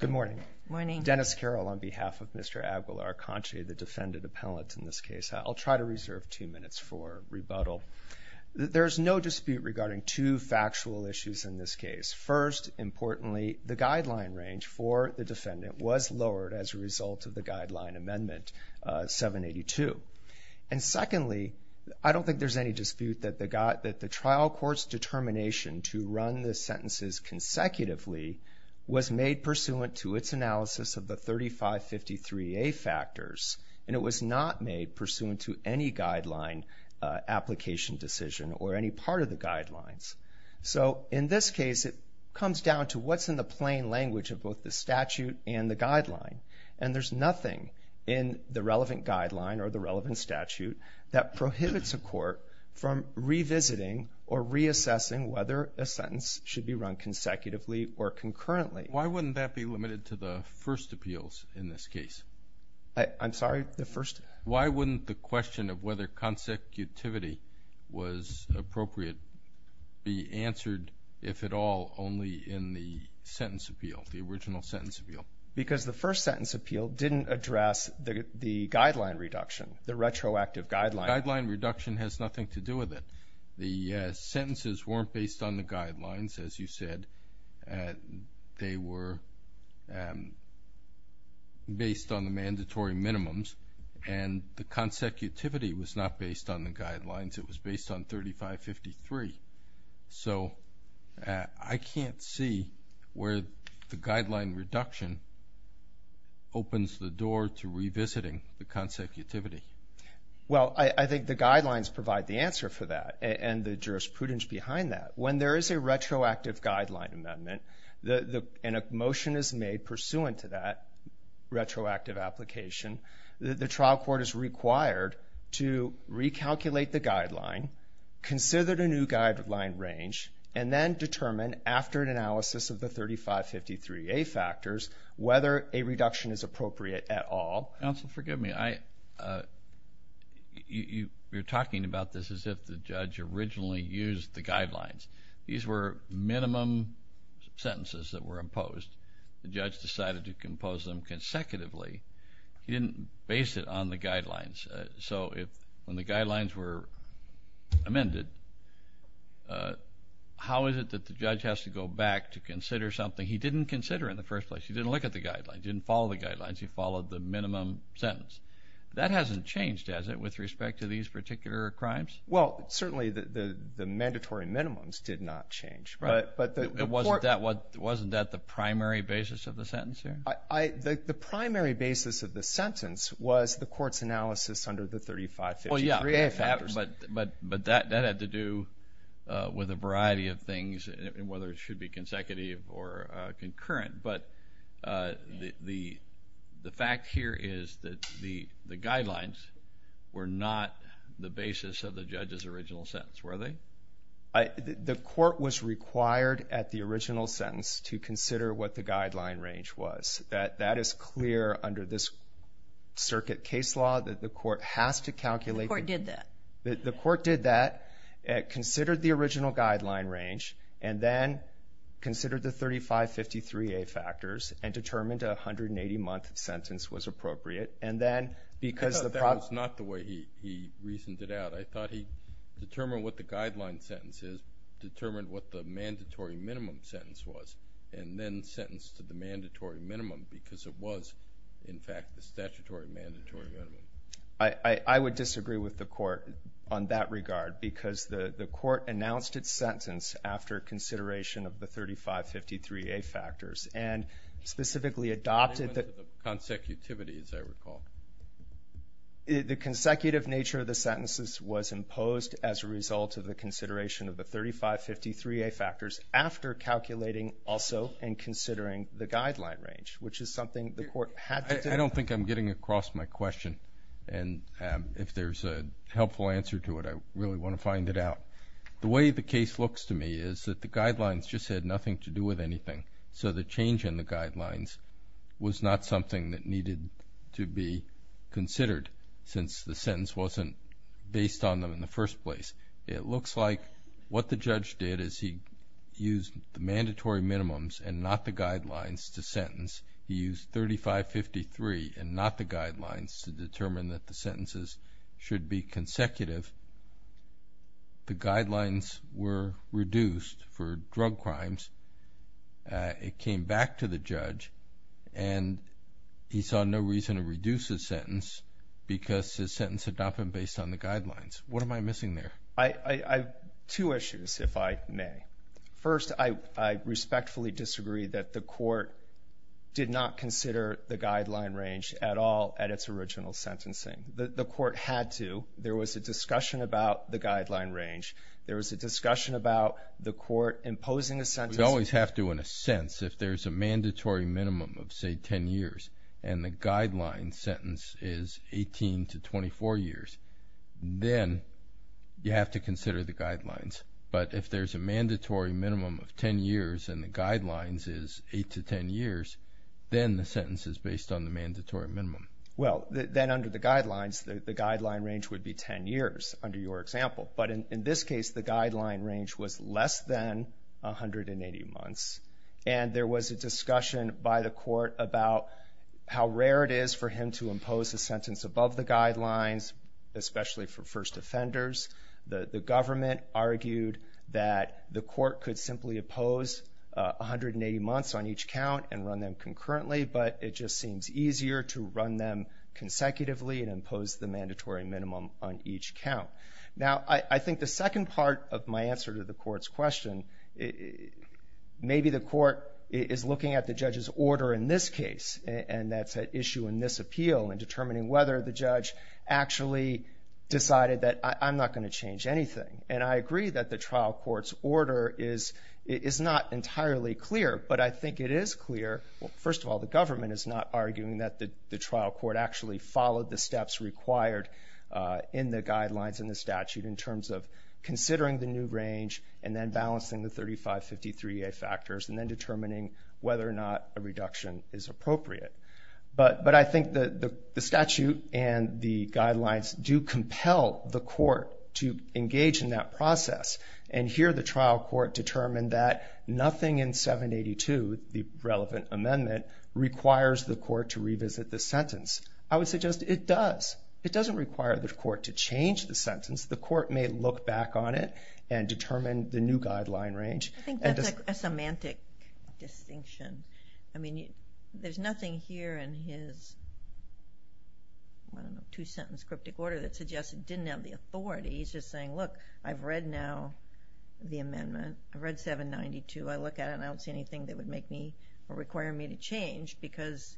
Good morning. Dennis Carroll on behalf of Mr. Aguilar-Canche, the defendant appellant in this case. I'll try to reserve two minutes for rebuttal. There's no dispute regarding two factual issues in this case. First, importantly, the guideline range for the defendant was lowered as a result of the guideline amendment 782. And secondly, I don't think there's any one of the sentences consecutively was made pursuant to its analysis of the 3553A factors. And it was not made pursuant to any guideline application decision or any part of the guidelines. So in this case, it comes down to what's in the plain language of both the statute and the guideline. And there's nothing in the relevant guideline or the relevant statute prohibits a court from revisiting or reassessing whether a sentence should be run consecutively or concurrently. Why wouldn't that be limited to the first appeals in this case? I'm sorry, the first? Why wouldn't the question of whether consecutivity was appropriate be answered, if at all, only in the sentence appeal, the original sentence appeal? Because the first guideline. The guideline reduction has nothing to do with it. The sentences weren't based on the guidelines, as you said. They were based on the mandatory minimums. And the consecutivity was not based on the guidelines. It was based on 3553. So I can't see where the guideline reduction opens the door to revisiting the consecutivity. Well, I think the guidelines provide the answer for that and the jurisprudence behind that. When there is a retroactive guideline amendment and a motion is made pursuant to that retroactive application, the trial court is required to recalculate the guideline, consider the new factors, whether a reduction is appropriate at all. Counsel, forgive me. You're talking about this as if the judge originally used the guidelines. These were minimum sentences that were imposed. The judge decided to impose them consecutively. He didn't base it on the guidelines. So when the guidelines were amended, how is it that the judge has to go back to consider something he didn't consider in the first place? He didn't look at the guidelines. He didn't follow the guidelines. He followed the minimum sentence. That hasn't changed, has it, with respect to these particular crimes? Well, certainly the mandatory minimums did not change. Wasn't that the primary basis of the sentence here? The primary basis of the sentence was the court's analysis under the 3553A factors. But that had to do with a variety of things, whether it should be consecutive or concurrent. The fact here is that the guidelines were not the basis of the judge's original sentence. The court was required at the original sentence to consider what the guideline range was. That is clear under this circuit case law that the court has to calculate... The court did that. The court did that, considered the original guideline range, and then considered the 3553A factors and determined a 180-month sentence was appropriate. And then because the... I thought that was not the way he reasoned it out. I thought he determined what the guideline sentence is, determined what the mandatory minimum sentence was, and then sentenced to the mandatory minimum because it was, in fact, the statutory mandatory minimum. I would disagree with the court on that regard because the court announced its sentence after consideration of the 3553A factors and specifically adopted the... The consecutive nature of the sentences was imposed as a result of the consideration of the guideline range, which is something the court had to... I don't think I'm getting across my question, and if there's a helpful answer to it, I really want to find it out. The way the case looks to me is that the guidelines just had nothing to do with anything, so the change in the guidelines was not something that needed to be considered since the sentence wasn't based on them in the first place. It looks like what the judge did is he used the mandatory minimums and not the guidelines to sentence. He used 3553 and not the guidelines to determine that the sentences should be consecutive. The guidelines were reduced for drug crimes. It came back to the judge, and he saw no reason to reduce his sentence because his sentence had not been based on the guidelines. What am I missing there? Two issues, if I may. First, I respectfully disagree that the court did not consider the guideline range at all at its original sentencing. The court had to. There was a discussion about the guideline range. There was a discussion about the court imposing a sentence... We always have to, in a sense, if there's a mandatory minimum of, say, 10 years and the guideline sentence is 18 to 24 years, then you have to consider the guidelines. But if there's a mandatory minimum of 10 years and the guidelines is 8 to 10 years, then the sentence is based on the mandatory minimum. Well, then under the guidelines, the guideline range would be 10 years, under your example. But in this case, the guideline range was less than 180 months, and there was a discussion by the court about how rare it is for him to impose a sentence above the guidelines, especially for first offenders. The government argued that the court could simply oppose 180 months on each count and run them concurrently, but it just seems easier to run them consecutively and impose the mandatory minimum on each count. Now, I think the second part of my answer to the court's question, maybe the court is ordering this case, and that's an issue in this appeal in determining whether the judge actually decided that, I'm not going to change anything. And I agree that the trial court's order is not entirely clear, but I think it is clear, well, first of all, the government is not arguing that the trial court actually followed the steps required in the guidelines and the statute in terms of considering the new range and then balancing the 3553A factors and then determining whether or not a reduction is appropriate. But I think the statute and the guidelines do compel the court to engage in that process. And here, the trial court determined that nothing in 782, the relevant amendment, requires the court to revisit the sentence. I would suggest it does. It doesn't require the court to change the sentence. The court may look back on it and determine the new guideline range. I think that's a semantic distinction. I mean, there's nothing here in his, I don't know, two-sentence cryptic order that suggests it didn't have the authority. He's just saying, look, I've read now the amendment. I've read 792. I look at it and I don't see anything that would make me or require me to change because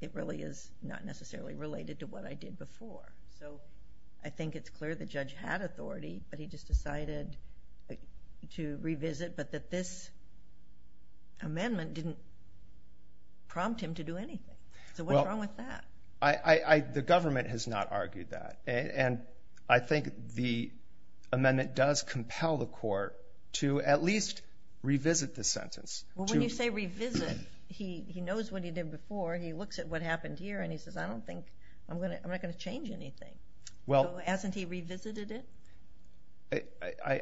it really is not necessarily related to what I did before. So I think it's clear the judge had authority, but he just decided to revisit, but that this amendment didn't prompt him to do anything. So what's wrong with that? The government has not argued that. And I think the amendment does compel the court to at least revisit the sentence. Well, when you say revisit, he knows what he did before. He looks at what happened here and he says, I don't think, I'm not going to change anything. So hasn't he revisited it?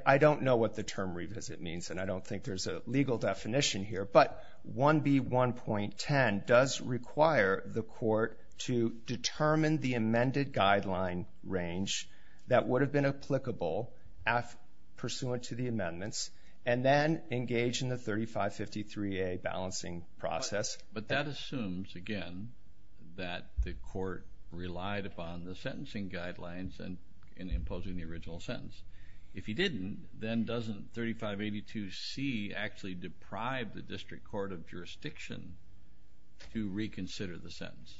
I don't know what the term revisit means and I don't think there's a legal definition here, but 1B1.10 does require the court to determine the amended guideline range that would have been applicable pursuant to the amendments and then engage in the 3553A balancing process. But that assumes, again, that the court relied upon the sentencing guidelines in imposing the original sentence. If he didn't, then doesn't 3582C actually deprive the district court of jurisdiction to reconsider the sentence?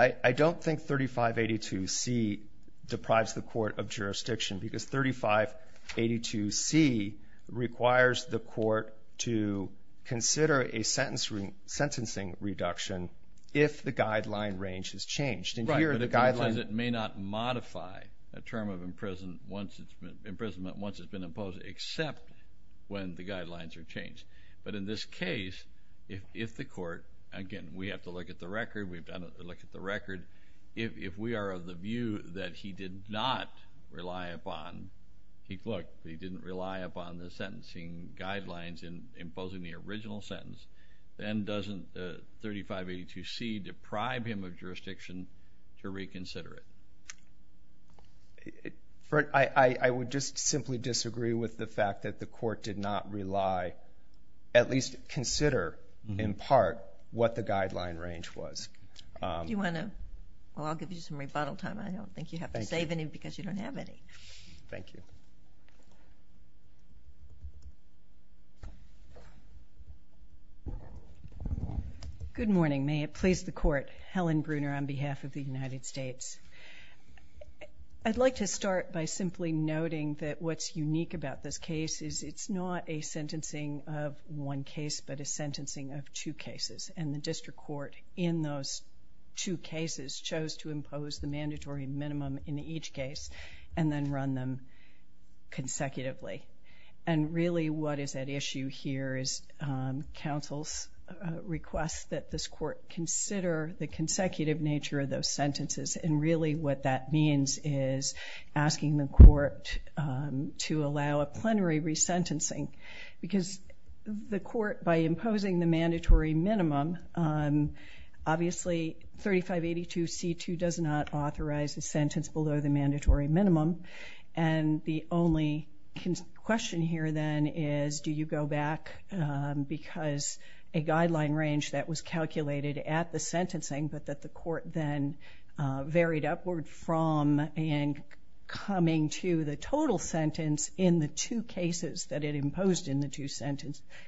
I don't think 3582C deprives the court of jurisdiction because 3582C requires the court to consider a sentencing reduction if the guideline range has changed. Right, but it says it may not modify a term of imprisonment once it's been imposed except when the guidelines are changed. But in this case, if the court, again, we have to look at the record, we've done a look at the record. If we are of the view that he did not rely upon, he didn't rely upon the sentencing guidelines in imposing the original sentence, then doesn't the 3582C deprive him of jurisdiction to reconsider it? I would just simply disagree with the fact that the court did not rely, at least consider in part, what the guideline range was. Do you want to? Well, I'll give you some rebuttal time. I don't think you have to save any because you don't have any. Good morning. May it please the court, Helen Bruner on behalf of the United States. I'd like to start by simply noting that what's unique about this case is it's not a sentencing of one case but a sentencing of two cases. And the district court in those two cases chose to impose the mandatory minimum in each case and then run them consecutively. And that's why I would ask that this court consider the consecutive nature of those sentences. And really what that means is asking the court to allow a plenary resentencing. Because the court by imposing the mandatory minimum, obviously 3582C2 does not authorize a sentence below the mandatory minimum. And the only question here then is do you go back because a guideline range that was calculated at the sentencing but that the court then varied upward from and coming to the total sentence in the two cases that it imposed in the two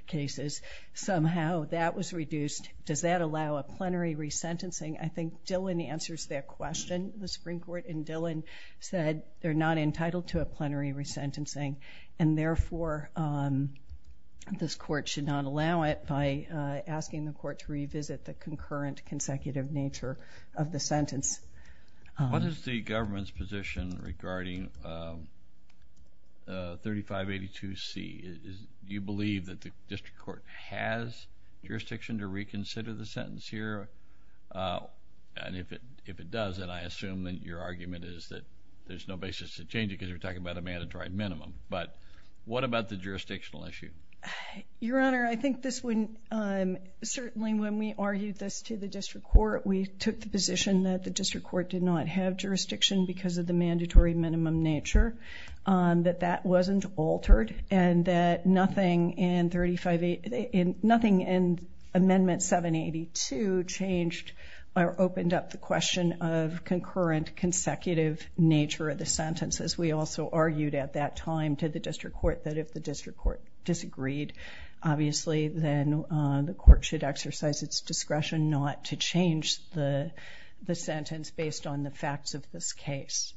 cases, somehow that was reduced. Does that allow a plenary resentencing? I think Dillon answers that question, the Supreme Court. And Dillon said they're not entitled to a plenary resentencing. And therefore, this court should not allow it by asking the court to revisit the concurrent consecutive nature of the sentence. What is the government's position regarding 3582C? Do you believe that the district court has jurisdiction to reconsider the sentence here? And if it does, then I assume that your court has jurisdiction. But what about the jurisdictional issue? Your Honor, I think this wouldn't, certainly when we argued this to the district court, we took the position that the district court did not have jurisdiction because of the mandatory minimum nature. That that wasn't altered and that nothing in amendment 782 changed or opened up the question of concurrent consecutive nature of the sentences. We also argued at that time to the district court that if the district court disagreed, obviously then the court should exercise its discretion not to change the sentence based on the facts of this case.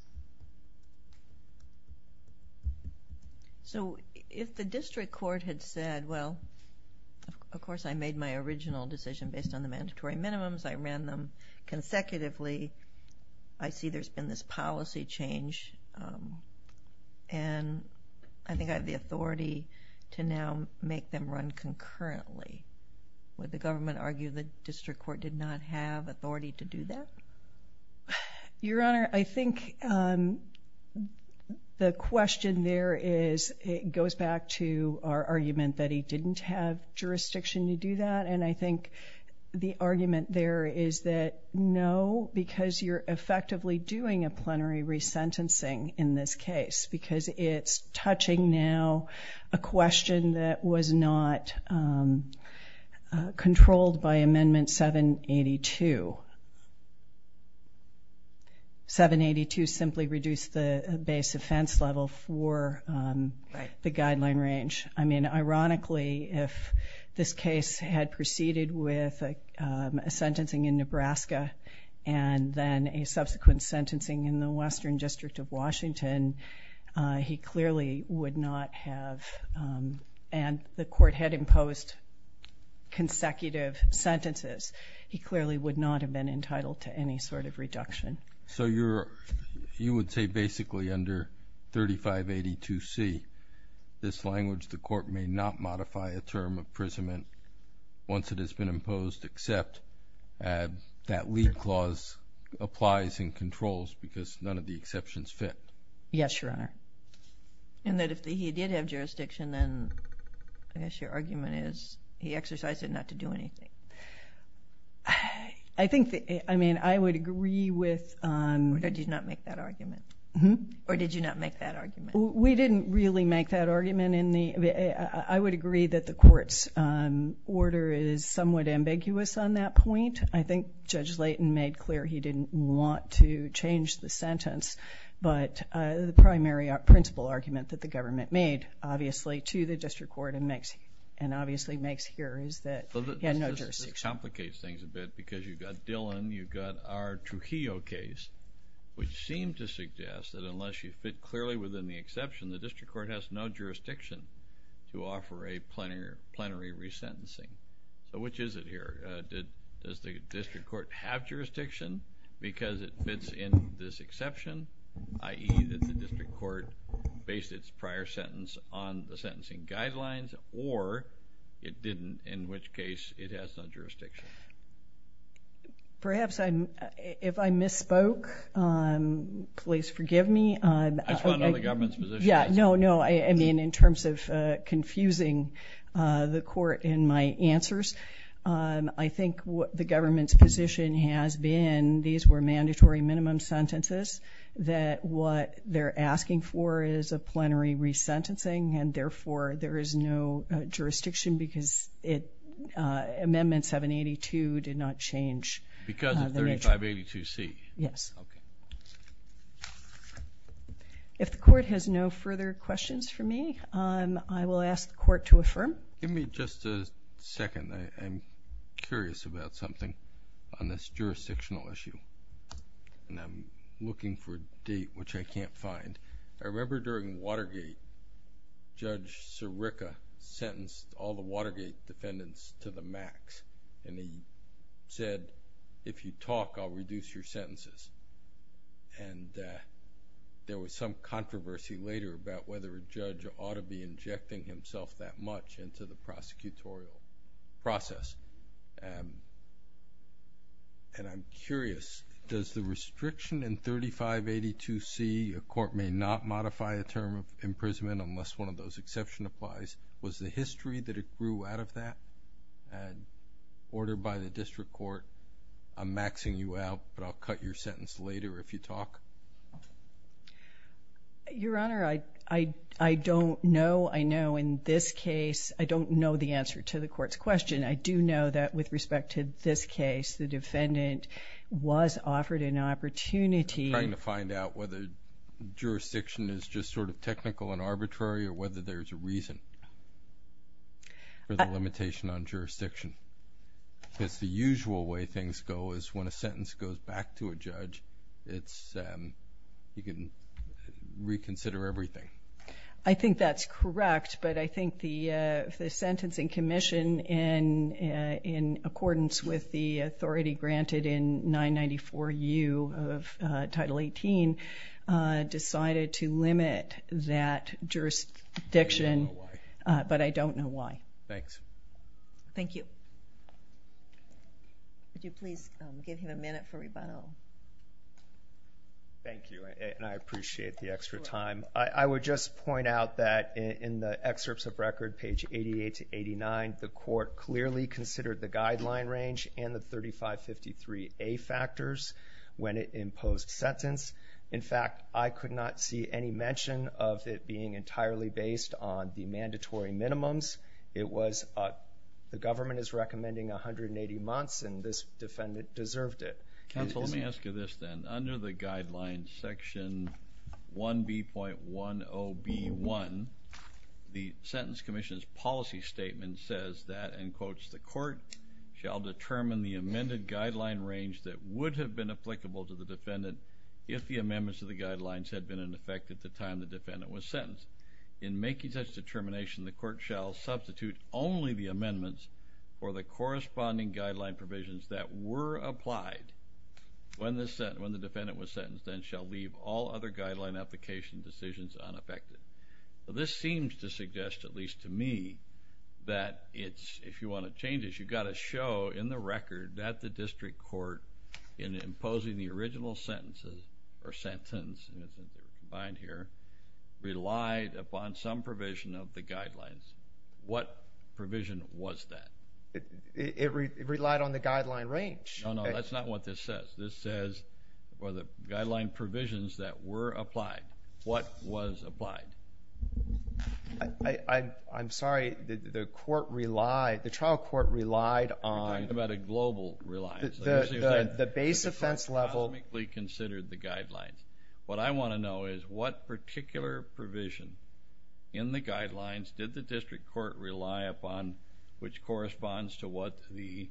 So if the district court had said, well, of course I made my original decision based on the mandatory minimums. I ran them consecutively. I see there's been this policy change. And I think I have the authority to now make them run concurrently. Would the government argue the district court did not have authority to do that? Your Honor, I think the question there is, it goes back to our argument that he didn't have jurisdiction to do that. And I think the argument there is that no, because you're right, it's touching now a question that was not controlled by amendment 782. 782 simply reduced the base offense level for the guideline range. I mean, ironically, if this case had proceeded with a sentencing in Nebraska and then a subsequent sentencing in the Western District of Washington, he clearly would not have, and the court had imposed consecutive sentences, he clearly would not have been entitled to any sort of reduction. So you would say basically under 3582C, this language, the court may not modify a term of imprisonment once it has been imposed except that lead clause applies and controls because none of the exceptions fit? Yes, Your Honor. And that if he did have jurisdiction, then I guess your argument is he exercised it not to do anything. I think, I mean, I would agree with... Or did you not make that argument? Mm-hmm. Or did you not make that argument? We didn't really make that argument. I would agree that the court's order is somewhat ambiguous on that point. I think Judge Layton made clear he didn't want to change the sentence, but the primary principle argument that the government made, obviously, to the district court and obviously makes clear is that he had no jurisdiction. This complicates things a bit because you've got Dillon, you've got our Trujillo case, which seem to suggest that unless you fit clearly within the exception, the district court has no jurisdiction to offer a plenary resentencing. So, which is it here? Does the district court have jurisdiction because it fits in this exception, i.e., that the district court based its prior sentence on the sentencing guidelines or it didn't, in which case it has no jurisdiction? Perhaps if I misspoke, please forgive me. I just want to know the government's position. Yeah, no, no. I mean, in terms of confusing the court in my answers, I think the government's position has been, these were mandatory minimum sentences, that what they're asking for is a plenary resentencing and, therefore, there is no jurisdiction because it, Amendment 782 did not change. Because of 3582C? Yes. Okay. If the court has no further questions for me, I will ask the court to affirm. Give me just a second. I'm curious about something on this jurisdictional issue. I'm looking for a date, which I can't find. I remember during Watergate, Judge Sirica sentenced all the Watergate defendants to the max and he said, if you talk, I'll reduce your sentences. There was some controversy later about whether a judge ought to be injecting himself that much into the prosecutorial process. I'm curious, does the restriction in 3582C, a court may not modify a term of imprisonment unless one of those exceptions applies, was the history that it grew out of that and ordered by the district court, I'm maxing you out, but I'll cut your sentence later if you talk? Your Honor, I don't know. I know in this case, I don't know the answer to the court's question. I do know that with respect to this case, the defendant was offered an opportunity. I'm trying to find out whether jurisdiction is just sort of technical and arbitrary or whether there's a reason for the limitation on jurisdiction. Because the usual way things go is when a sentence goes back to a judge, you can reconsider everything. I think that's correct, but I think the sentencing commission, in accordance with the authority granted in 994U of Title 18, decided to limit that jurisdiction, but I don't know why. Thanks. Thank you. Would you please give him a minute for rebuttal? Thank you, and I appreciate the extra time. I would just point out that in the excerpts of record, page 88 to 89, the court clearly considered the guideline range and the 3553A factors when it imposed sentence. In fact, I could not see any mention of it being entirely based on the mandatory minimums. The government is recommending 180 months, and this defendant deserved it. Counsel, let me ask you this then. Under the guideline section 1B.10B.1, the sentence commission's policy statement says that, and quotes, the court shall determine the amended guideline range that would have been applicable to the defendant if the amendments to the guidelines had been in effect at the time the defendant was sentenced. In making such determination, the court shall substitute only the amendments for the corresponding guideline provisions that were applied when the defendant was sentenced, and shall leave all other guideline application decisions unaffected. This seems to suggest, at least to me, that if you want to change this, you've got to the district court in imposing the original sentence, relied upon some provision of the guidelines. What provision was that? It relied on the guideline range. No, no, that's not what this says. This says, for the guideline provisions that were applied, what was applied? I'm sorry. The trial court relied on the global reliance. The base offense level. The baseline was considered the guidelines. What I want to know is, what particular provision in the guidelines did the district court rely upon, which corresponds to what the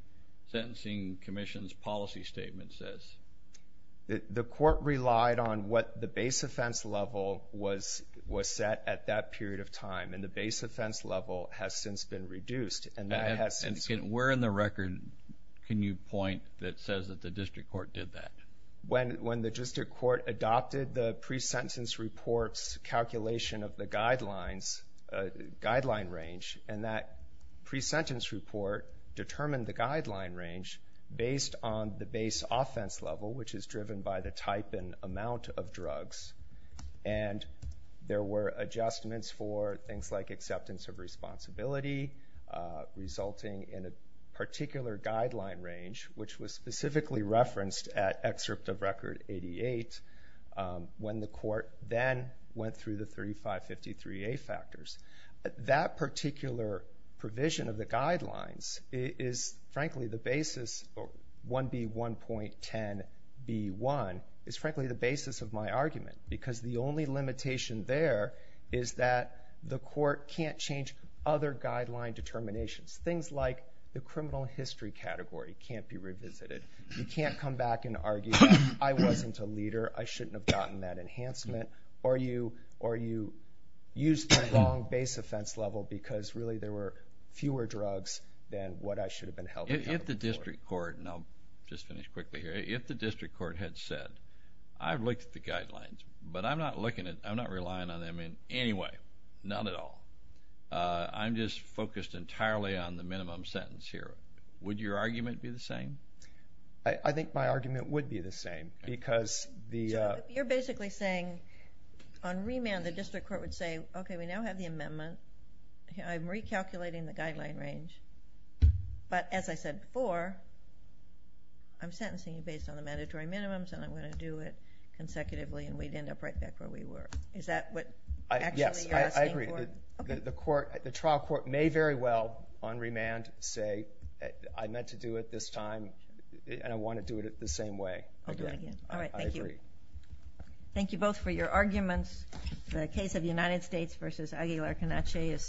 sentencing commission's policy statement says? The court relied on what the base offense level was set at that period of time, and the base offense level has since been reduced. Where in the record can you point that says that the district court did that? When the district court adopted the pre-sentence report's calculation of the guideline range, and that pre-sentence report determined the guideline range based on the base offense level, which is driven by the type and amount of drugs, and there were adjustments for things like acceptance of responsibility, resulting in a particular guideline range, which was specifically referenced at excerpt of record 88, when the court then went through the 3553A factors. That particular provision of the guidelines is frankly the basis, 1B1.10B1, is frankly the basis of my argument, because the only limitation there is that the court can't change other guideline determinations. Things like the criminal history category can't be revisited. You can't come back and argue, I wasn't a leader, I shouldn't have gotten that enhancement, or you used the wrong base offense level because really there were fewer drugs than what I should have been held accountable for. If the district court, and I'll just finish quickly here, if the district court had said, I've looked at the guidelines, but I'm not relying on them in any way, not at all, I'm just focused entirely on the minimum sentence here, would your argument be the same? I think my argument would be the same, because the So, you're basically saying, on remand, the district court would say, okay, we now have the amendment, I'm recalculating the guideline range, but as I said before, I'm sentencing based on the mandatory minimums, and I'm going to do it consecutively, and we'd end up right back where we were. Is that what actually you're asking for? Yes, I agree. The trial court may very well, on remand, say, I meant to do it this time, and I want to do it the same way. I'll do it again. All right, thank you. Thank you both for your arguments. The case of the United States v. Aguilar-Canache is submitted.